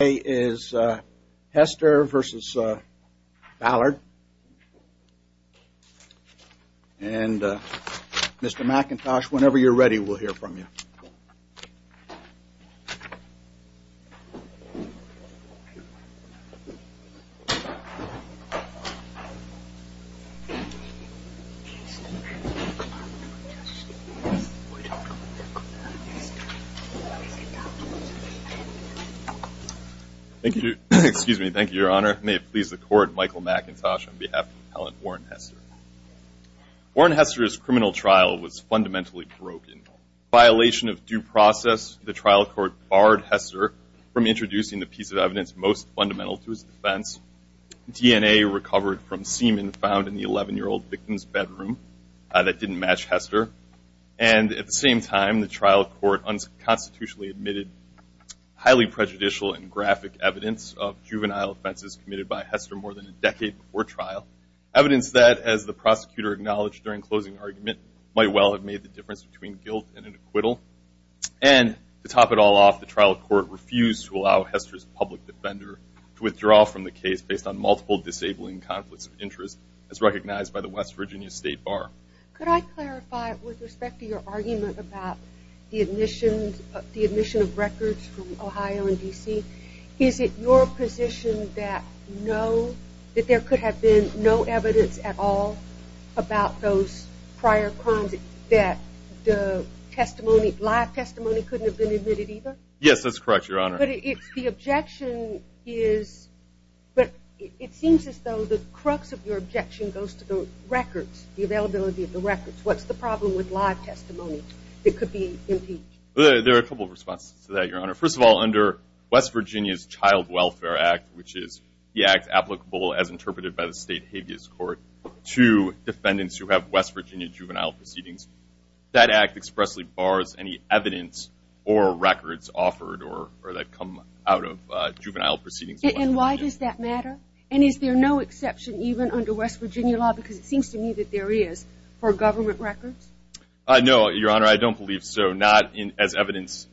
Today is Hester v. Ballard, and Mr. McIntosh, whenever you're ready, we'll hear from you. May it please the Court, Michael McIntosh on behalf of the appellant Warren Hester. Warren Hester's criminal trial was fundamentally broken. In violation of due process, the trial court barred Hester from introducing the piece of evidence most fundamental to his defense. DNA recovered from semen found in the 11-year-old victim's bedroom that didn't match Hester. And at the same time, the trial court unconstitutionally admitted highly prejudicial and graphic evidence of juvenile offenses committed by Hester more than a decade before trial. Evidence that, as the prosecutor acknowledged during closing argument, might well have made the difference between guilt and an acquittal. And to top it all off, the trial court refused to allow Hester's public defender to withdraw from the case based on multiple disabling conflicts of interest as recognized by the West Virginia State Bar. Now, could I clarify with respect to your argument about the admission of records from Ohio and D.C.? Is it your position that no, that there could have been no evidence at all about those prior crimes that the testimony, live testimony, couldn't have been admitted either? Yes, that's correct, Your Honor. But it seems as though the crux of your objection goes to the records, the availability of the records. What's the problem with live testimony that could be impeached? There are a couple of responses to that, Your Honor. First of all, under West Virginia's Child Welfare Act, which is the act applicable, as interpreted by the state habeas court, to defendants who have West Virginia juvenile proceedings, that act expressly bars any evidence or records offered or that come out of juvenile proceedings. And why does that matter? And is there no exception even under West Virginia law, because it seems to me that there is, for government records? No, Your Honor, I don't believe so. Not as evidence,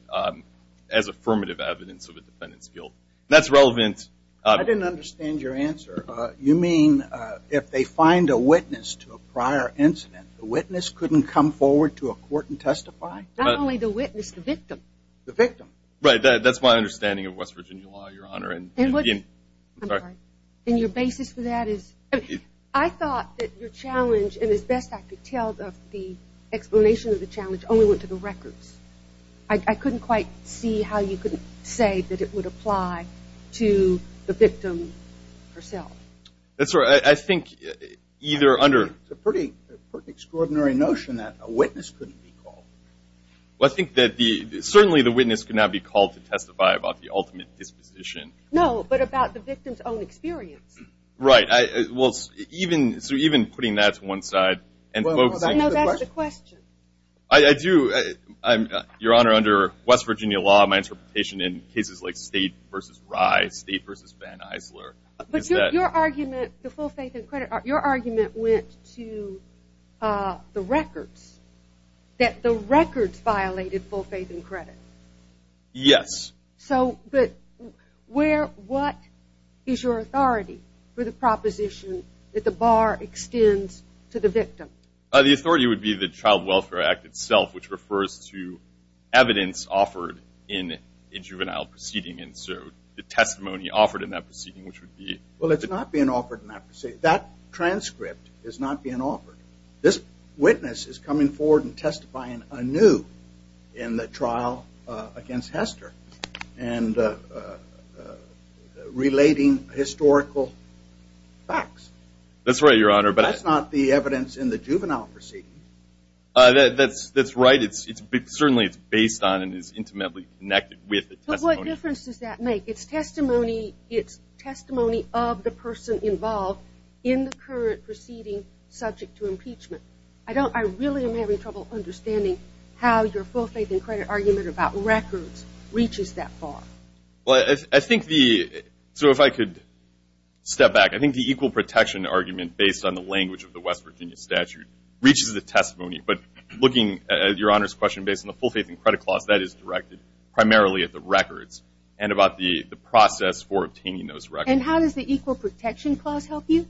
as affirmative evidence of a defendant's guilt. That's relevant. I didn't understand your answer. You mean if they find a witness to a prior incident, the witness couldn't come forward to a court and testify? Not only the witness, the victim. The victim. Right, that's my understanding of West Virginia law, Your Honor. And your basis for that is? I thought that your challenge, and as best I could tell, the explanation of the challenge only went to the records. I couldn't quite see how you could say that it would apply to the victim herself. That's right. I think either under. It's a pretty extraordinary notion that a witness couldn't be called. Well, I think that certainly the witness could not be called to testify about the ultimate disposition. No, but about the victim's own experience. Right. Well, so even putting that to one side. No, that's the question. I do. Your Honor, under West Virginia law, my interpretation in cases like State v. Rye, State v. Van Isler is that. But your argument, the full faith and credit, your argument went to the records, that the records violated full faith and credit. Yes. So, but where, what is your authority for the proposition that the bar extends to the victim? The authority would be the Child Welfare Act itself, which refers to evidence offered in a juvenile proceeding, and so the testimony offered in that proceeding, which would be. Well, it's not being offered in that proceeding. That transcript is not being offered. This witness is coming forward and testifying anew in the trial against Hester and relating historical facts. That's right, Your Honor. But that's not the evidence in the juvenile proceeding. That's right. Certainly it's based on and is intimately connected with the testimony. But what difference does that make? It's testimony of the person involved in the current proceeding subject to impeachment. I don't, I really am having trouble understanding how your full faith and credit argument about records reaches that far. Well, I think the, so if I could step back. I think the equal protection argument based on the language of the West Virginia statute reaches the testimony, but looking at Your Honor's question based on the full faith and credit clause, that is directed primarily at the records and about the process for obtaining those records. And how does the equal protection clause help you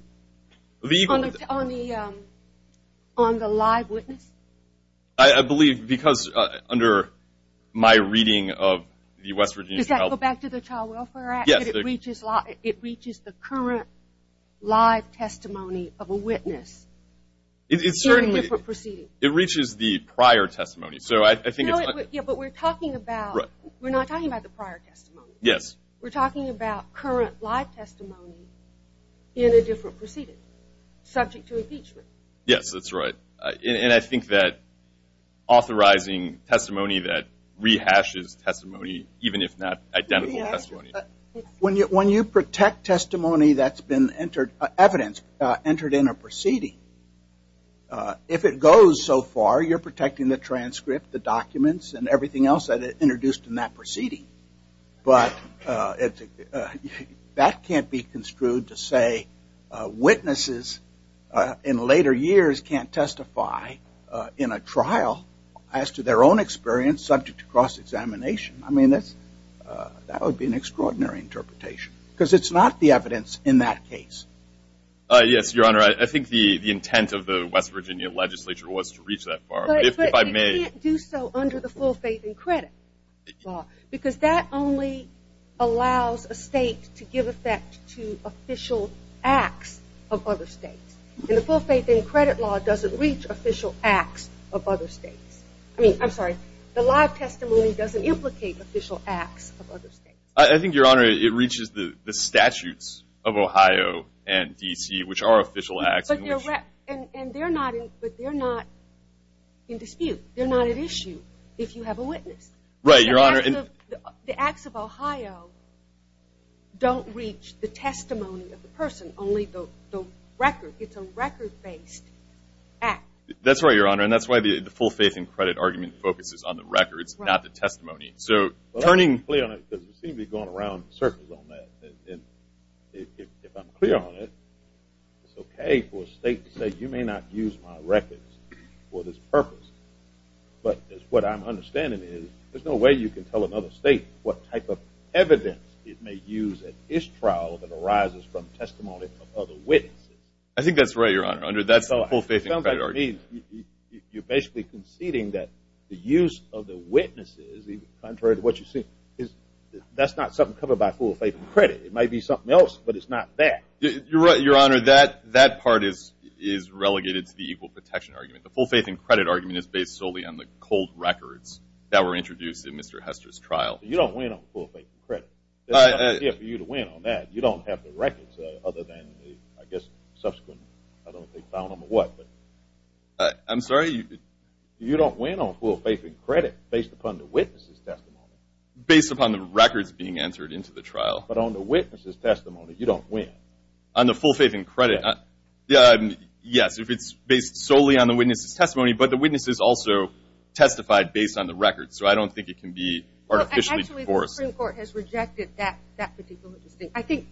on the live witness? I believe because under my reading of the West Virginia trial. Does that go back to the Child Welfare Act? Yes. It reaches the current live testimony of a witness in a different proceeding. It certainly, it reaches the prior testimony. So I think it's. Yeah, but we're talking about, we're not talking about the prior testimony. Yes. We're talking about current live testimony in a different proceeding subject to impeachment. Yes, that's right. And I think that authorizing testimony that rehashes testimony, even if not identical testimony. When you protect testimony that's been entered, evidence entered in a proceeding. If it goes so far, you're protecting the transcript, the documents, and everything else that is introduced in that proceeding. But that can't be construed to say witnesses in later years can't testify in a trial as to their own experience subject to cross-examination. I mean, that would be an extraordinary interpretation because it's not the evidence in that case. Yes, Your Honor. I think the intent of the West Virginia legislature was to reach that far. But you can't do so under the full faith and credit law because that only allows a state to give effect to official acts of other states. And the full faith and credit law doesn't reach official acts of other states. I mean, I'm sorry, the live testimony doesn't implicate official acts of other states. I think, Your Honor, it reaches the statutes of Ohio and D.C., which are official acts. But they're not in dispute. They're not at issue if you have a witness. Right, Your Honor. The acts of Ohio don't reach the testimony of the person, only the record. It's a record-based act. That's right, Your Honor. And that's why the full faith and credit argument focuses on the records, not the testimony. It seems to be going around in circles on that. And if I'm clear on it, it's okay for a state to say, you may not use my records for this purpose. But what I'm understanding is there's no way you can tell another state what type of evidence it may use at its trial that arises from testimony of other witnesses. I think that's right, Your Honor. Under that full faith and credit argument. You're basically conceding that the use of the witnesses, contrary to what you see, that's not something covered by full faith and credit. It might be something else, but it's not that. You're right, Your Honor. That part is relegated to the equal protection argument. The full faith and credit argument is based solely on the cold records that were introduced in Mr. Hester's trial. You don't win on full faith and credit. There's no idea for you to win on that. You don't have the records other than the, I guess, subsequent, I don't think, found them or what. I'm sorry? You don't win on full faith and credit based upon the witnesses' testimony. Based upon the records being entered into the trial. But on the witnesses' testimony, you don't win. On the full faith and credit. Yes, if it's based solely on the witnesses' testimony, but the witnesses also testified based on the records. So I don't think it can be artificially enforced. Actually, the Supreme Court has rejected that particular distinction.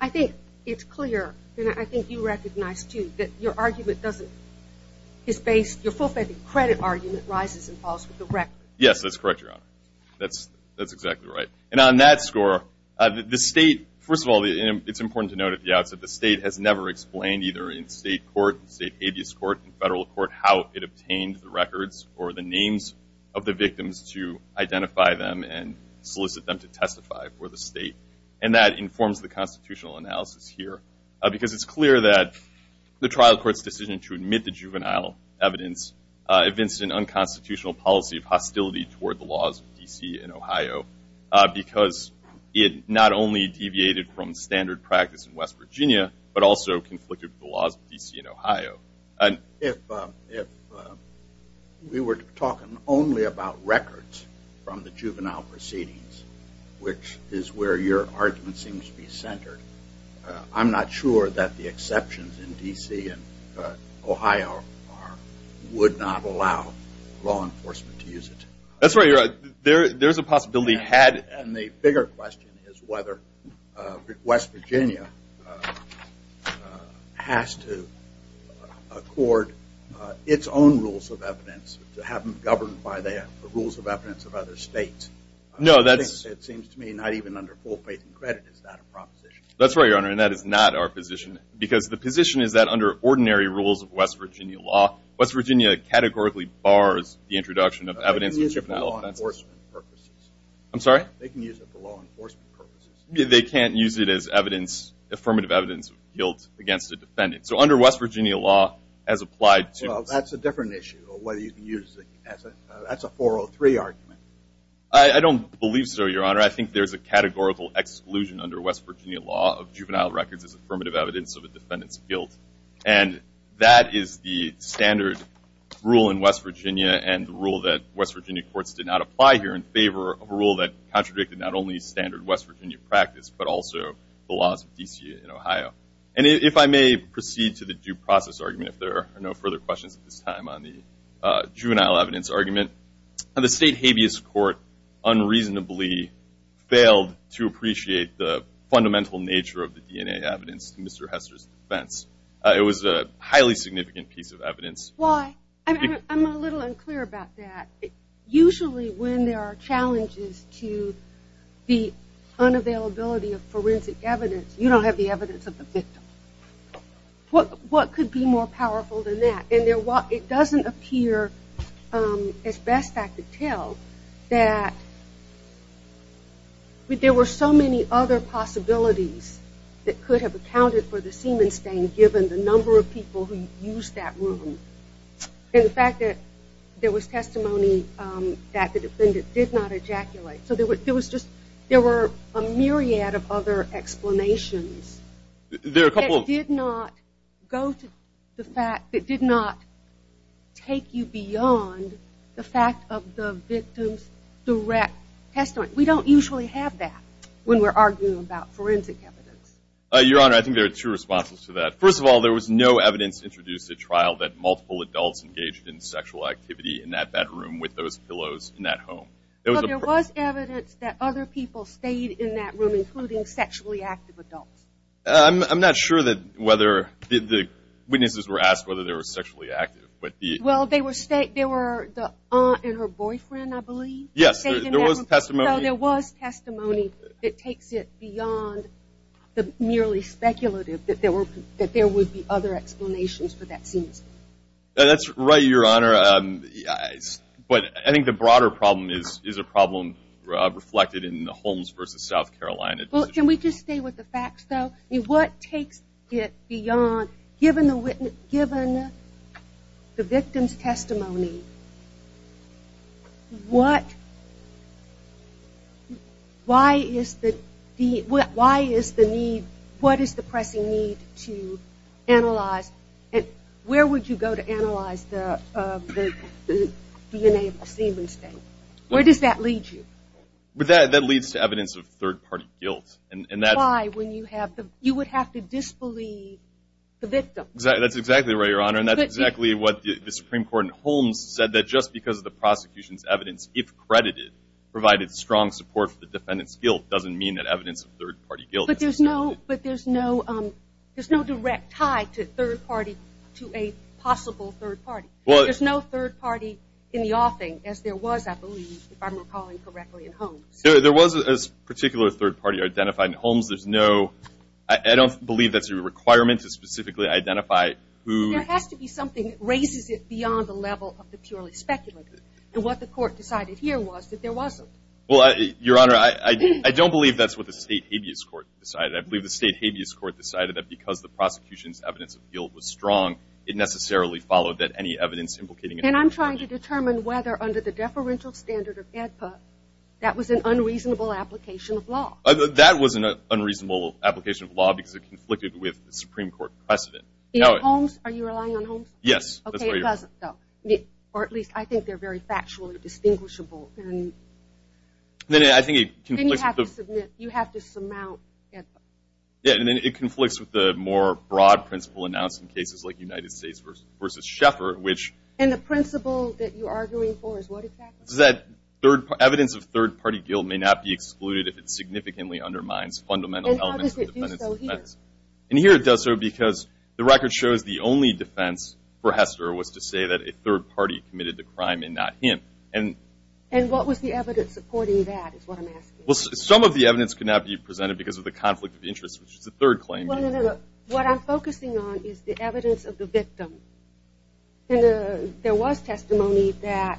I think it's clear, and I think you recognize, too, that your argument doesn't, your full faith and credit argument rises and falls with the record. Yes, that's correct, Your Honor. That's exactly right. And on that score, the state, first of all, it's important to note at the outset, the state has never explained either in state court, state habeas court, federal court, how it obtained the records or the names of the victims to identify them and solicit them to testify for the state. And that informs the constitutional analysis here. Because it's clear that the trial court's decision to admit the juvenile evidence evinced an unconstitutional policy of hostility toward the laws of D.C. and Ohio. Because it not only deviated from standard practice in West Virginia, but also conflicted with the laws of D.C. and Ohio. If we were talking only about records from the juvenile proceedings, which is where your argument seems to be centered, I'm not sure that the exceptions in D.C. and Ohio would not allow law enforcement to use it. That's right, Your Honor. There's a possibility. And the bigger question is whether West Virginia has to accord its own rules of evidence to have them governed by the rules of evidence of other states. It seems to me not even under full faith and credit is that a proposition. That's right, Your Honor, and that is not our position. Because the position is that under ordinary rules of West Virginia law, West Virginia categorically bars the introduction of evidence of juvenile offenses. They can use it for law enforcement purposes. I'm sorry? They can use it for law enforcement purposes. They can't use it as affirmative evidence of guilt against a defendant. So under West Virginia law, as applied to – Well, that's a different issue of whether you can use it as a – that's a 403 argument. I don't believe so, Your Honor. I think there's a categorical exclusion under West Virginia law of juvenile records as affirmative evidence of a defendant's guilt. And that is the standard rule in West Virginia and the rule that West Virginia courts did not apply here in favor of a rule that contradicted not only standard West Virginia practice but also the laws of D.C. and Ohio. And if I may proceed to the due process argument, if there are no further questions at this time on the juvenile evidence argument, the state habeas court unreasonably failed to appreciate the fundamental nature of the DNA evidence to Mr. Hester's defense. It was a highly significant piece of evidence. Why? I'm a little unclear about that. Usually when there are challenges to the unavailability of forensic evidence, you don't have the evidence of the victim. What could be more powerful than that? And it doesn't appear, as best I could tell, that there were so many other possibilities that could have accounted for the semen stain given the number of people who used that room. And the fact that there was testimony that the defendant did not ejaculate. So there were a myriad of other explanations that did not go to the fact that did not take you beyond the fact of the victim's direct testimony. We don't usually have that when we're arguing about forensic evidence. Your Honor, I think there are two responses to that. First of all, there was no evidence introduced at trial that multiple adults engaged in sexual activity in that bedroom with those pillows in that home. But there was evidence that other people stayed in that room, including sexually active adults. I'm not sure that whether the witnesses were asked whether they were sexually active. Well, they were the aunt and her boyfriend, I believe. Yes, there was testimony. No, there was testimony that takes it beyond the merely speculative that there would be other explanations for that semen stain. That's right, Your Honor. But I think the broader problem is a problem reflected in the Holmes v. South Carolina. Can we just stay with the facts, though? What takes it beyond, given the victim's testimony, what is the pressing need to analyze and where would you go to analyze the DNA of the semen stain? Where does that lead you? That leads to evidence of third-party guilt. Why, when you would have to disbelieve the victim? That's exactly right, Your Honor, and that's exactly what the Supreme Court in Holmes said, that just because the prosecution's evidence, if credited, provided strong support for the defendant's guilt doesn't mean that evidence of third-party guilt is necessary. But there's no direct tie to a possible third party. There's no third party in the offing, as there was, I believe, if I'm recalling correctly, in Holmes. There was a particular third party identified in Holmes. I don't believe that's a requirement to specifically identify who. There has to be something that raises it beyond the level of the purely speculative, and what the Court decided here was that there wasn't. Well, Your Honor, I don't believe that's what the State Habeas Court decided. I believe the State Habeas Court decided that because the prosecution's evidence of guilt was strong, it necessarily followed that any evidence implicating a third party. And I'm trying to determine whether, under the deferential standard of AEDPA, that was an unreasonable application of law. That was an unreasonable application of law because it conflicted with the Supreme Court precedent. In Holmes, are you relying on Holmes? Yes. Okay, it doesn't, though. Or at least I think they're very factually distinguishable. Then I think it conflicts with the… Then you have to submit, you have to surmount AEDPA. Yeah, and then it conflicts with the more broad principle announced in cases like United States v. Schaeffer, which… And the principle that you're arguing for is what exactly? Is that evidence of third party guilt may not be excluded if it significantly undermines fundamental elements of the defendant's defense. And how does it do so here? And here it does so because the record shows the only defense for Hester was to say that a third party committed the crime and not him. And what was the evidence supporting that is what I'm asking. Well, some of the evidence could not be presented because of the conflict of interest, which is the third claim. What I'm focusing on is the evidence of the victim. And there was testimony that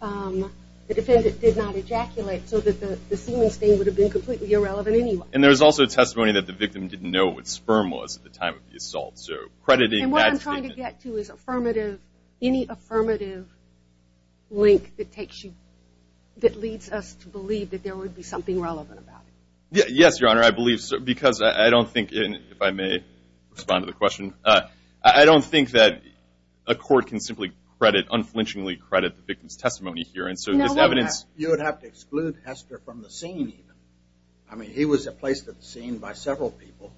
the defendant did not ejaculate so that the semen stain would have been completely irrelevant anyway. And there's also testimony that the victim didn't know what sperm was at the time of the assault, so crediting that statement. And what I'm trying to get to is affirmative, any affirmative link that takes you, that leads us to believe that there would be something relevant about it. Yes, Your Honor, I believe so because I don't think, if I may respond to the question, I don't think that a court can simply credit, unflinchingly credit the victim's testimony here. And so this evidence You would have to exclude Hester from the scene even. I mean, he was placed at the scene by several people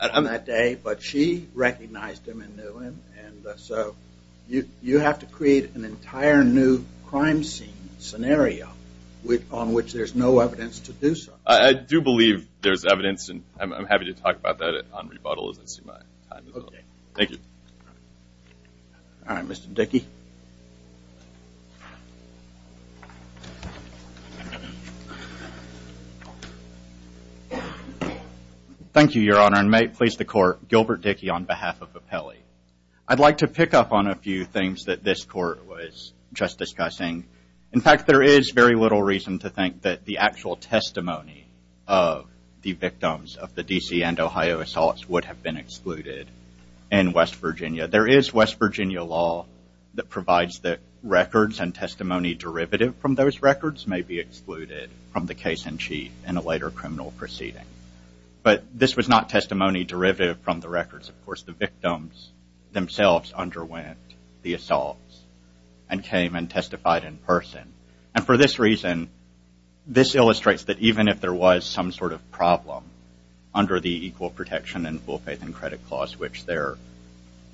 on that day, but she recognized him and knew him. And so you have to create an entire new crime scene, scenario, on which there's no evidence to do so. I do believe there's evidence, and I'm happy to talk about that on rebuttal as I see my time is up. Okay. Thank you. All right, Mr. Dickey. Thank you, Your Honor, and may it please the Court, Gilbert Dickey on behalf of Appelli. I'd like to pick up on a few things that this Court was just discussing. In fact, there is very little reason to think that the actual testimony of the victims of the D.C. and Ohio assaults would have been excluded in West Virginia. There is West Virginia law that provides that records and testimony derivative from those records may be excluded from the case-in-chief in a later criminal proceeding. But this was not testimony derivative from the records. Of course, the victims themselves underwent the assaults and came and testified in person. And for this reason, this illustrates that even if there was some sort of problem under the Equal Protection and Full Faith and Credit Clause, which there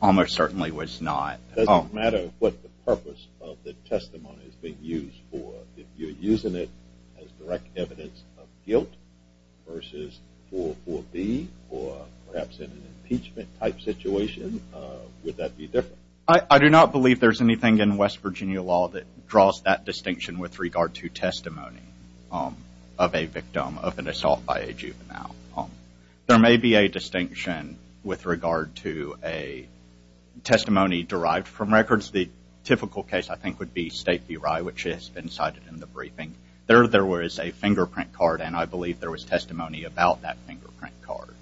almost certainly was not. It doesn't matter what the purpose of the testimony is being used for. If you're using it as direct evidence of guilt versus 4.4.B or perhaps in an impeachment-type situation, would that be different? I do not believe there's anything in West Virginia law that draws that distinction with regard to testimony of a victim of an assault by a juvenile. There may be a distinction with regard to a testimony derived from records. The typical case, I think, would be State v. Rye, which has been cited in the briefing. There was a fingerprint card, and I believe there was testimony about that fingerprint card.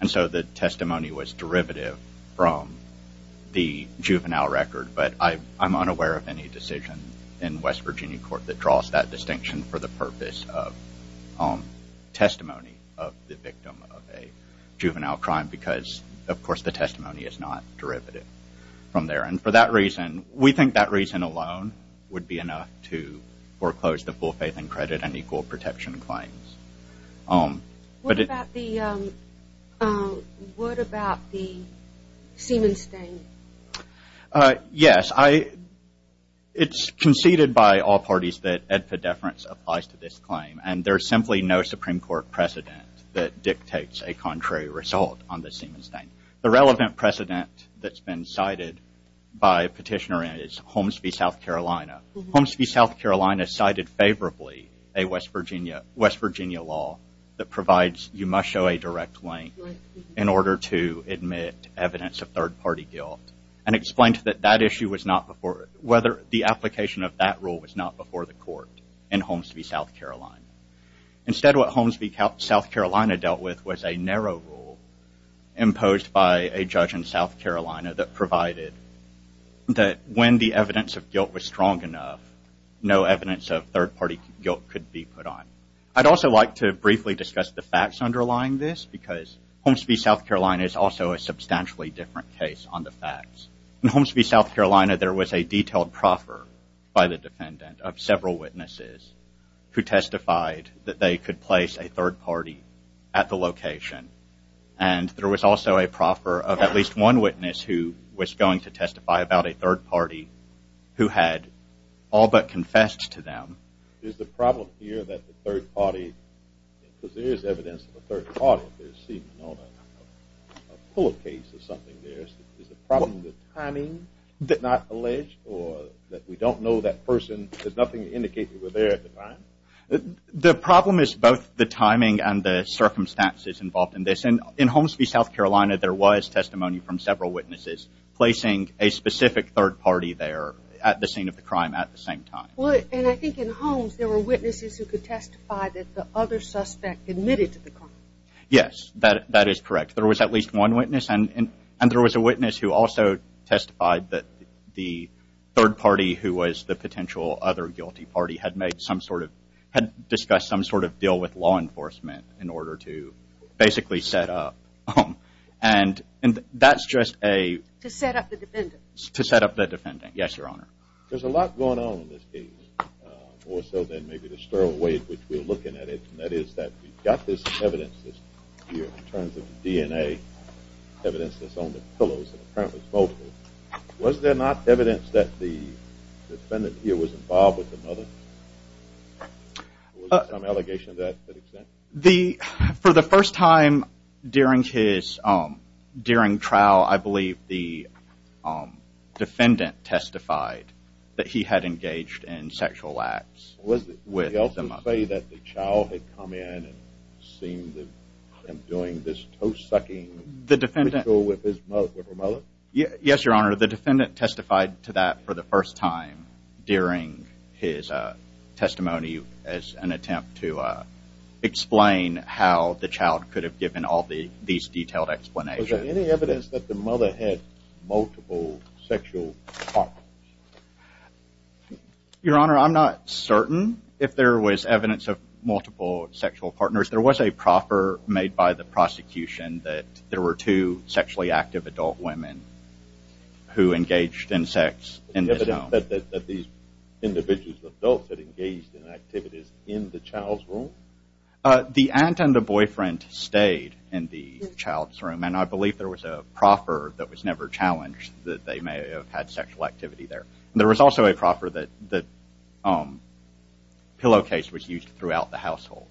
And so the testimony was derivative from the juvenile record, but I'm unaware of any decision in West Virginia court that draws that distinction for the purpose of testimony of the victim of a juvenile crime because, of course, the testimony is not derivative from there. And for that reason, we think that reason alone would be enough to foreclose the full faith and credit and equal protection claims. What about the Siemens stain? Yes, it's conceded by all parties that epidepherence applies to this claim, and there's simply no Supreme Court precedent that dictates a contrary result on the Siemens stain. The relevant precedent that's been cited by petitioner is Holmes v. South Carolina. Holmes v. South Carolina cited favorably a West Virginia law that provides you must show a direct link in order to admit evidence of third-party guilt and explained that the application of that rule was not before the court in Holmes v. South Carolina. Instead, what Holmes v. South Carolina dealt with was a narrow rule imposed by a judge in South Carolina that provided that when the evidence of guilt was strong enough, no evidence of third-party guilt could be put on. I'd also like to briefly discuss the facts underlying this because Holmes v. South Carolina is also a substantially different case on the facts. In Holmes v. South Carolina, there was a detailed proffer by the defendant of several witnesses who testified that they could place a third party at the location, and there was also a proffer of at least one witness who was going to testify about a third party who had all but confessed to them. Is the problem here that the third party, because there is evidence of a third party, there seems to be a full case of something there. Is the problem the timing that's not alleged or that we don't know that person? There's nothing to indicate they were there at the time. The problem is both the timing and the circumstances involved in this, and in Holmes v. South Carolina, there was testimony from several witnesses placing a specific third party there at the scene of the crime at the same time. And I think in Holmes there were witnesses who could testify that the other suspect admitted to the crime. Yes, that is correct. There was at least one witness, and there was a witness who also testified that the third party, who was the potential other guilty party, had discussed some sort of deal with law enforcement in order to basically set up. And that's just a... To set up the defendant. To set up the defendant, yes, Your Honor. There's a lot going on in this case, more so than maybe the sterile way in which we're looking at it, and that is that we've got this evidence here in terms of the DNA evidence that's on the pillows and the front of his mobile. Was there not evidence that the defendant here was involved with the mother? Was there some allegation to that extent? For the first time during trial, I believe the defendant testified that he had engaged in sexual acts with the mother. Did he also say that the child had come in and seemed to be doing this toast-sucking ritual with her mother? Yes, Your Honor. The defendant testified to that for the first time during his testimony as an attempt to explain how the child could have given all these detailed explanations. Was there any evidence that the mother had multiple sexual partners? Your Honor, I'm not certain if there was evidence of multiple sexual partners. There was a proffer made by the prosecution that there were two sexually active adult women who engaged in sex in this home. Was there evidence that these individual adults had engaged in activities in the child's room? The aunt and the boyfriend stayed in the child's room, and I believe there was a proffer that was never challenged that they may have had sexual activity there. There was also a proffer that pillowcase was used throughout the household.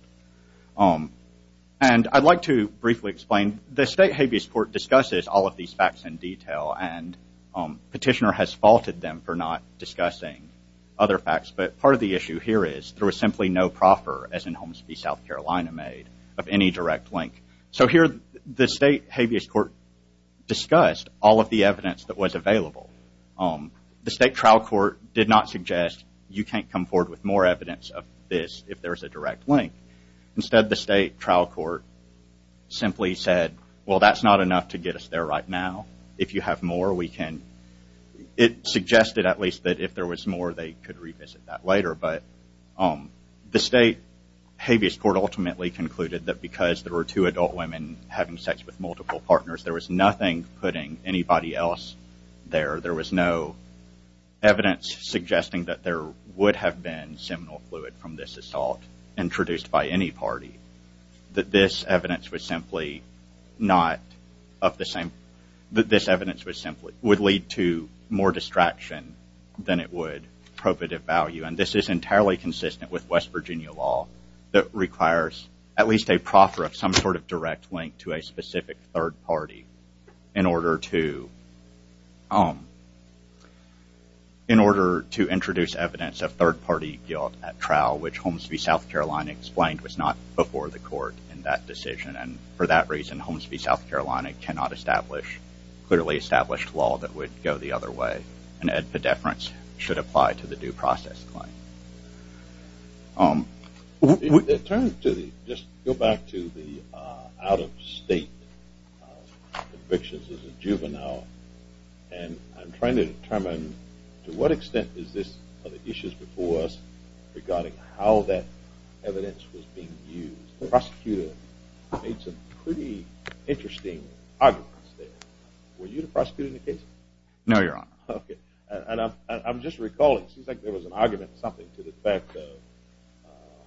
And I'd like to briefly explain, the State Habeas Court discusses all of these facts in detail, and Petitioner has faulted them for not discussing other facts, but part of the issue here is there was simply no proffer, as in Holmes v. South Carolina made, of any direct link. So here the State Habeas Court discussed all of the evidence that was available. The State Trial Court did not suggest you can't come forward with more evidence of this if there's a direct link. Instead the State Trial Court simply said, well, that's not enough to get us there right now if you have more we can... It suggested at least that if there was more they could revisit that later, but the State Habeas Court ultimately concluded that because there were two adult women having sex with multiple partners, there was nothing putting anybody else there. There was no evidence suggesting that there would have been seminal fluid from this assault introduced by any party, that this evidence was simply not of the same... That this evidence would lead to more distraction than it would probative value, and this is entirely consistent with West Virginia law that requires at least a proffer of some sort of direct link to a specific third party in order to... In order to introduce evidence of third party guilt at trial, which Holmes v. South Carolina explained was not before the court in that decision, and for that reason Holmes v. South Carolina cannot establish clearly established law that would go the other way, and edpedeference should apply to the due process claim. Just go back to the out-of-state convictions as a juvenile, and I'm trying to determine to what extent is this one of the issues before us regarding how that evidence was being used. The prosecutor made some pretty interesting arguments there. Were you the prosecutor in the case? No, Your Honor. Okay. And I'm just recalling, it seems like there was an argument or something to the fact of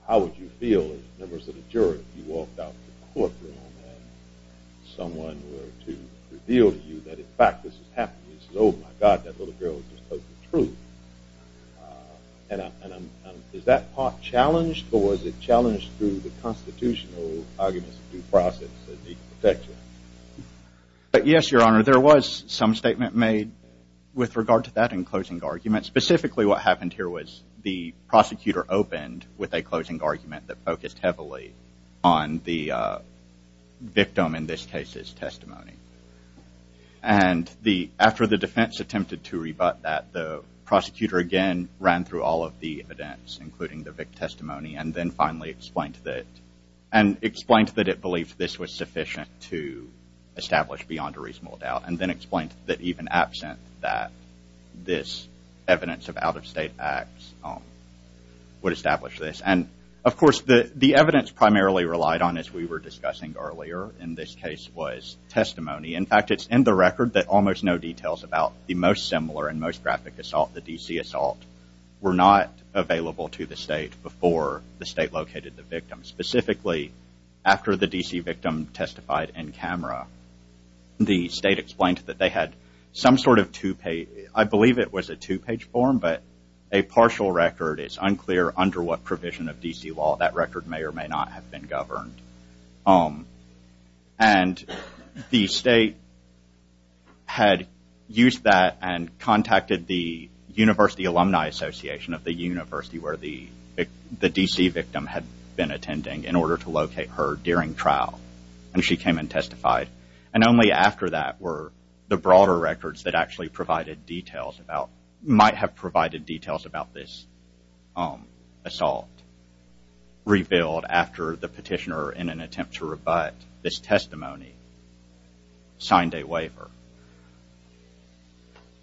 how would you feel if, members of the jury, you walked out of the courtroom and someone were to reveal to you that in fact this is happening, and you said, oh, my God, that little girl just told the truth. And is that part challenged or was it challenged through the constitutional arguments of due process that need to affect you? Yes, Your Honor. There was some statement made with regard to that in closing argument. Specifically what happened here was the prosecutor opened with a closing argument that focused heavily on the victim, in this case, testimony. And after the defense attempted to rebut that, the prosecutor again ran through all of the evidence, including the testimony, and then finally explained that, and explained that it believed this was sufficient to establish beyond a reasonable doubt, and then explained that even absent that, this evidence of out-of-state acts would establish this. And, of course, the evidence primarily relied on, as we were discussing earlier in this case, was testimony. In fact, it's in the record that almost no details about the most similar and most graphic assault, the D.C. assault, were not available to the state before the state located the victim. Specifically, after the D.C. victim testified in camera, the state explained that they had some sort of two-page, I believe it was a two-page form, but a partial record. It's unclear under what provision of D.C. law that record may or may not have been governed. And the state had used that and contacted the University Alumni Association of the university where the D.C. victim had been attending in order to locate her during trial, and she came and testified. And only after that were the broader records that actually provided details about, might have provided details about this assault, revealed after the petitioner, in an attempt to rebut this testimony, signed a waiver.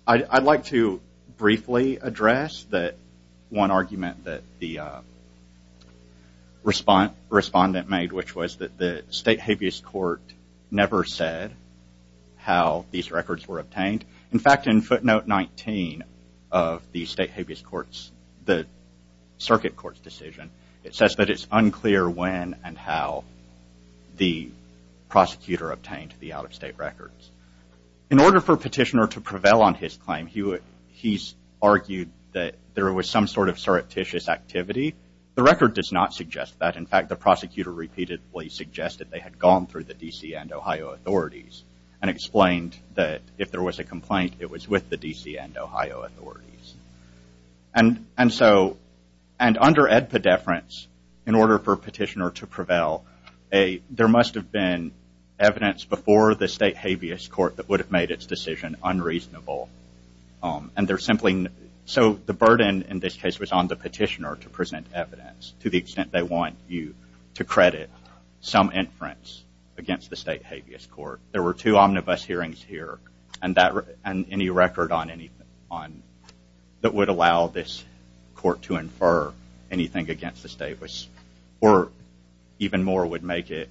I'd like to briefly address that one argument that the respondent made, which was that the state habeas court never said how these records were obtained. In fact, in footnote 19 of the state habeas court's, the circuit court's decision, it says that it's unclear when and how the prosecutor obtained the out-of-state records. In order for a petitioner to prevail on his claim, he's argued that there was some sort of surreptitious activity. The record does not suggest that. In fact, the prosecutor repeatedly suggested they had gone through the D.C. and Ohio authorities and explained that if there was a complaint, it was with the D.C. and Ohio authorities. And so, and under edpedeference, in order for a petitioner to prevail, there must have been evidence before the state habeas court that would have made its decision unreasonable. And they're simply, so the burden in this case was on the petitioner to present evidence to the extent they want you to credit some inference against the state habeas court. There were two omnibus hearings here, and any record on, that would allow this court to infer anything against the state was, or even more would make it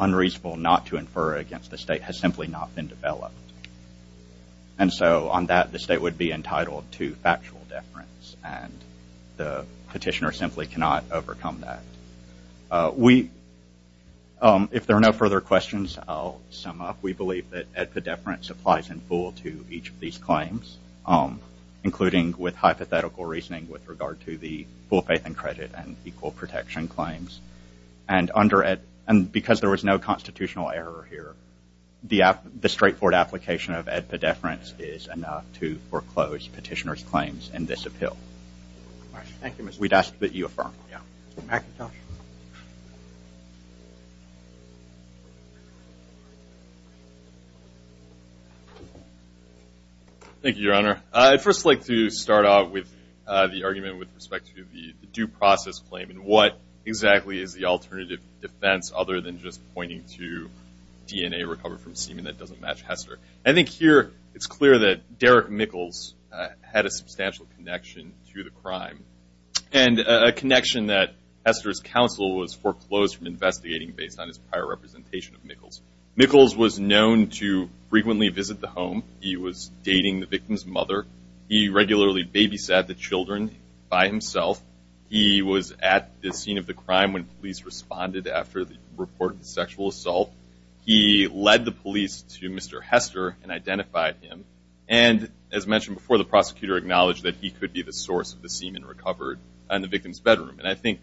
unreasonable not to infer against the state has simply not been developed. And so, on that, the state would be entitled to factual deference, and the petitioner simply cannot overcome that. We, if there are no further questions, I'll sum up. We believe that edpedeference applies in full to each of these claims, including with hypothetical reasoning with regard to the full faith and credit and equal protection claims. And because there was no constitutional error here, the straightforward application of edpedeference is enough to foreclose petitioner's claims in this appeal. We'd ask that you affirm. McIntosh. Thank you, Your Honor. I'd first like to start off with the argument with respect to the due process claim and what exactly is the alternative defense other than just pointing to DNA recovered from semen that doesn't match Hester. I think here it's clear that Derek Mickles had a substantial connection to the crime, and a connection that Hester's counsel was foreclosed from investigating based on his prior representation of Mickles. Mickles was known to frequently visit the home. He was dating the victim's mother. He regularly babysat the children by himself. He was at the scene of the crime when police responded after the report of the sexual assault. He led the police to Mr. Hester and identified him. And as mentioned before, the prosecutor acknowledged that he could be the source of the semen recovered in the victim's bedroom. And I think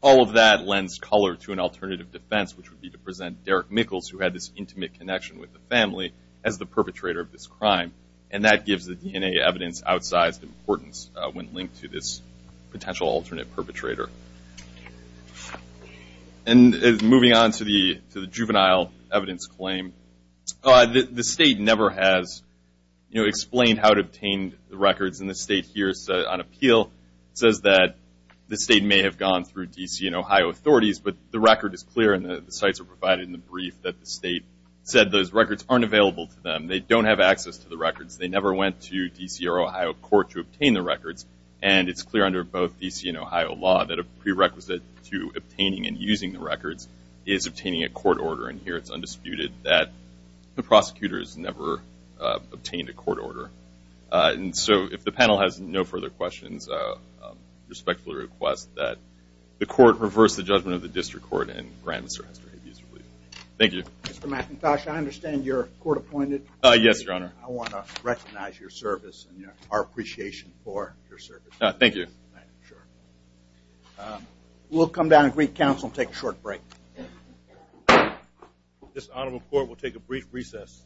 all of that lends color to an alternative defense, which would be to present Derek Mickles, who had this intimate connection with the family, as the perpetrator of this crime. And that gives the DNA evidence outsized importance when linked to this potential alternate perpetrator. And moving on to the juvenile evidence claim, the state never has explained how it obtained the records. And the state here, on appeal, says that the state may have gone through D.C. and Ohio authorities, but the record is clear and the sites are provided in the brief that the state said those records aren't available to them. They don't have access to the records. They never went to D.C. or Ohio court to obtain the records, and it's clear under both D.C. and Ohio law that a prerequisite to obtaining and using the records is obtaining a court order. And here it's undisputed that the prosecutor has never obtained a court order. And so if the panel has no further questions, I respectfully request that the court reverse the judgment of the district court and grant Mr. Hester his release. Thank you. Mr. McIntosh, I understand you're court-appointed. Yes, Your Honor. I want to recognize your service and our appreciation for your service. Thank you. We'll come down and greet counsel and take a short break. This honorable court will take a brief recess.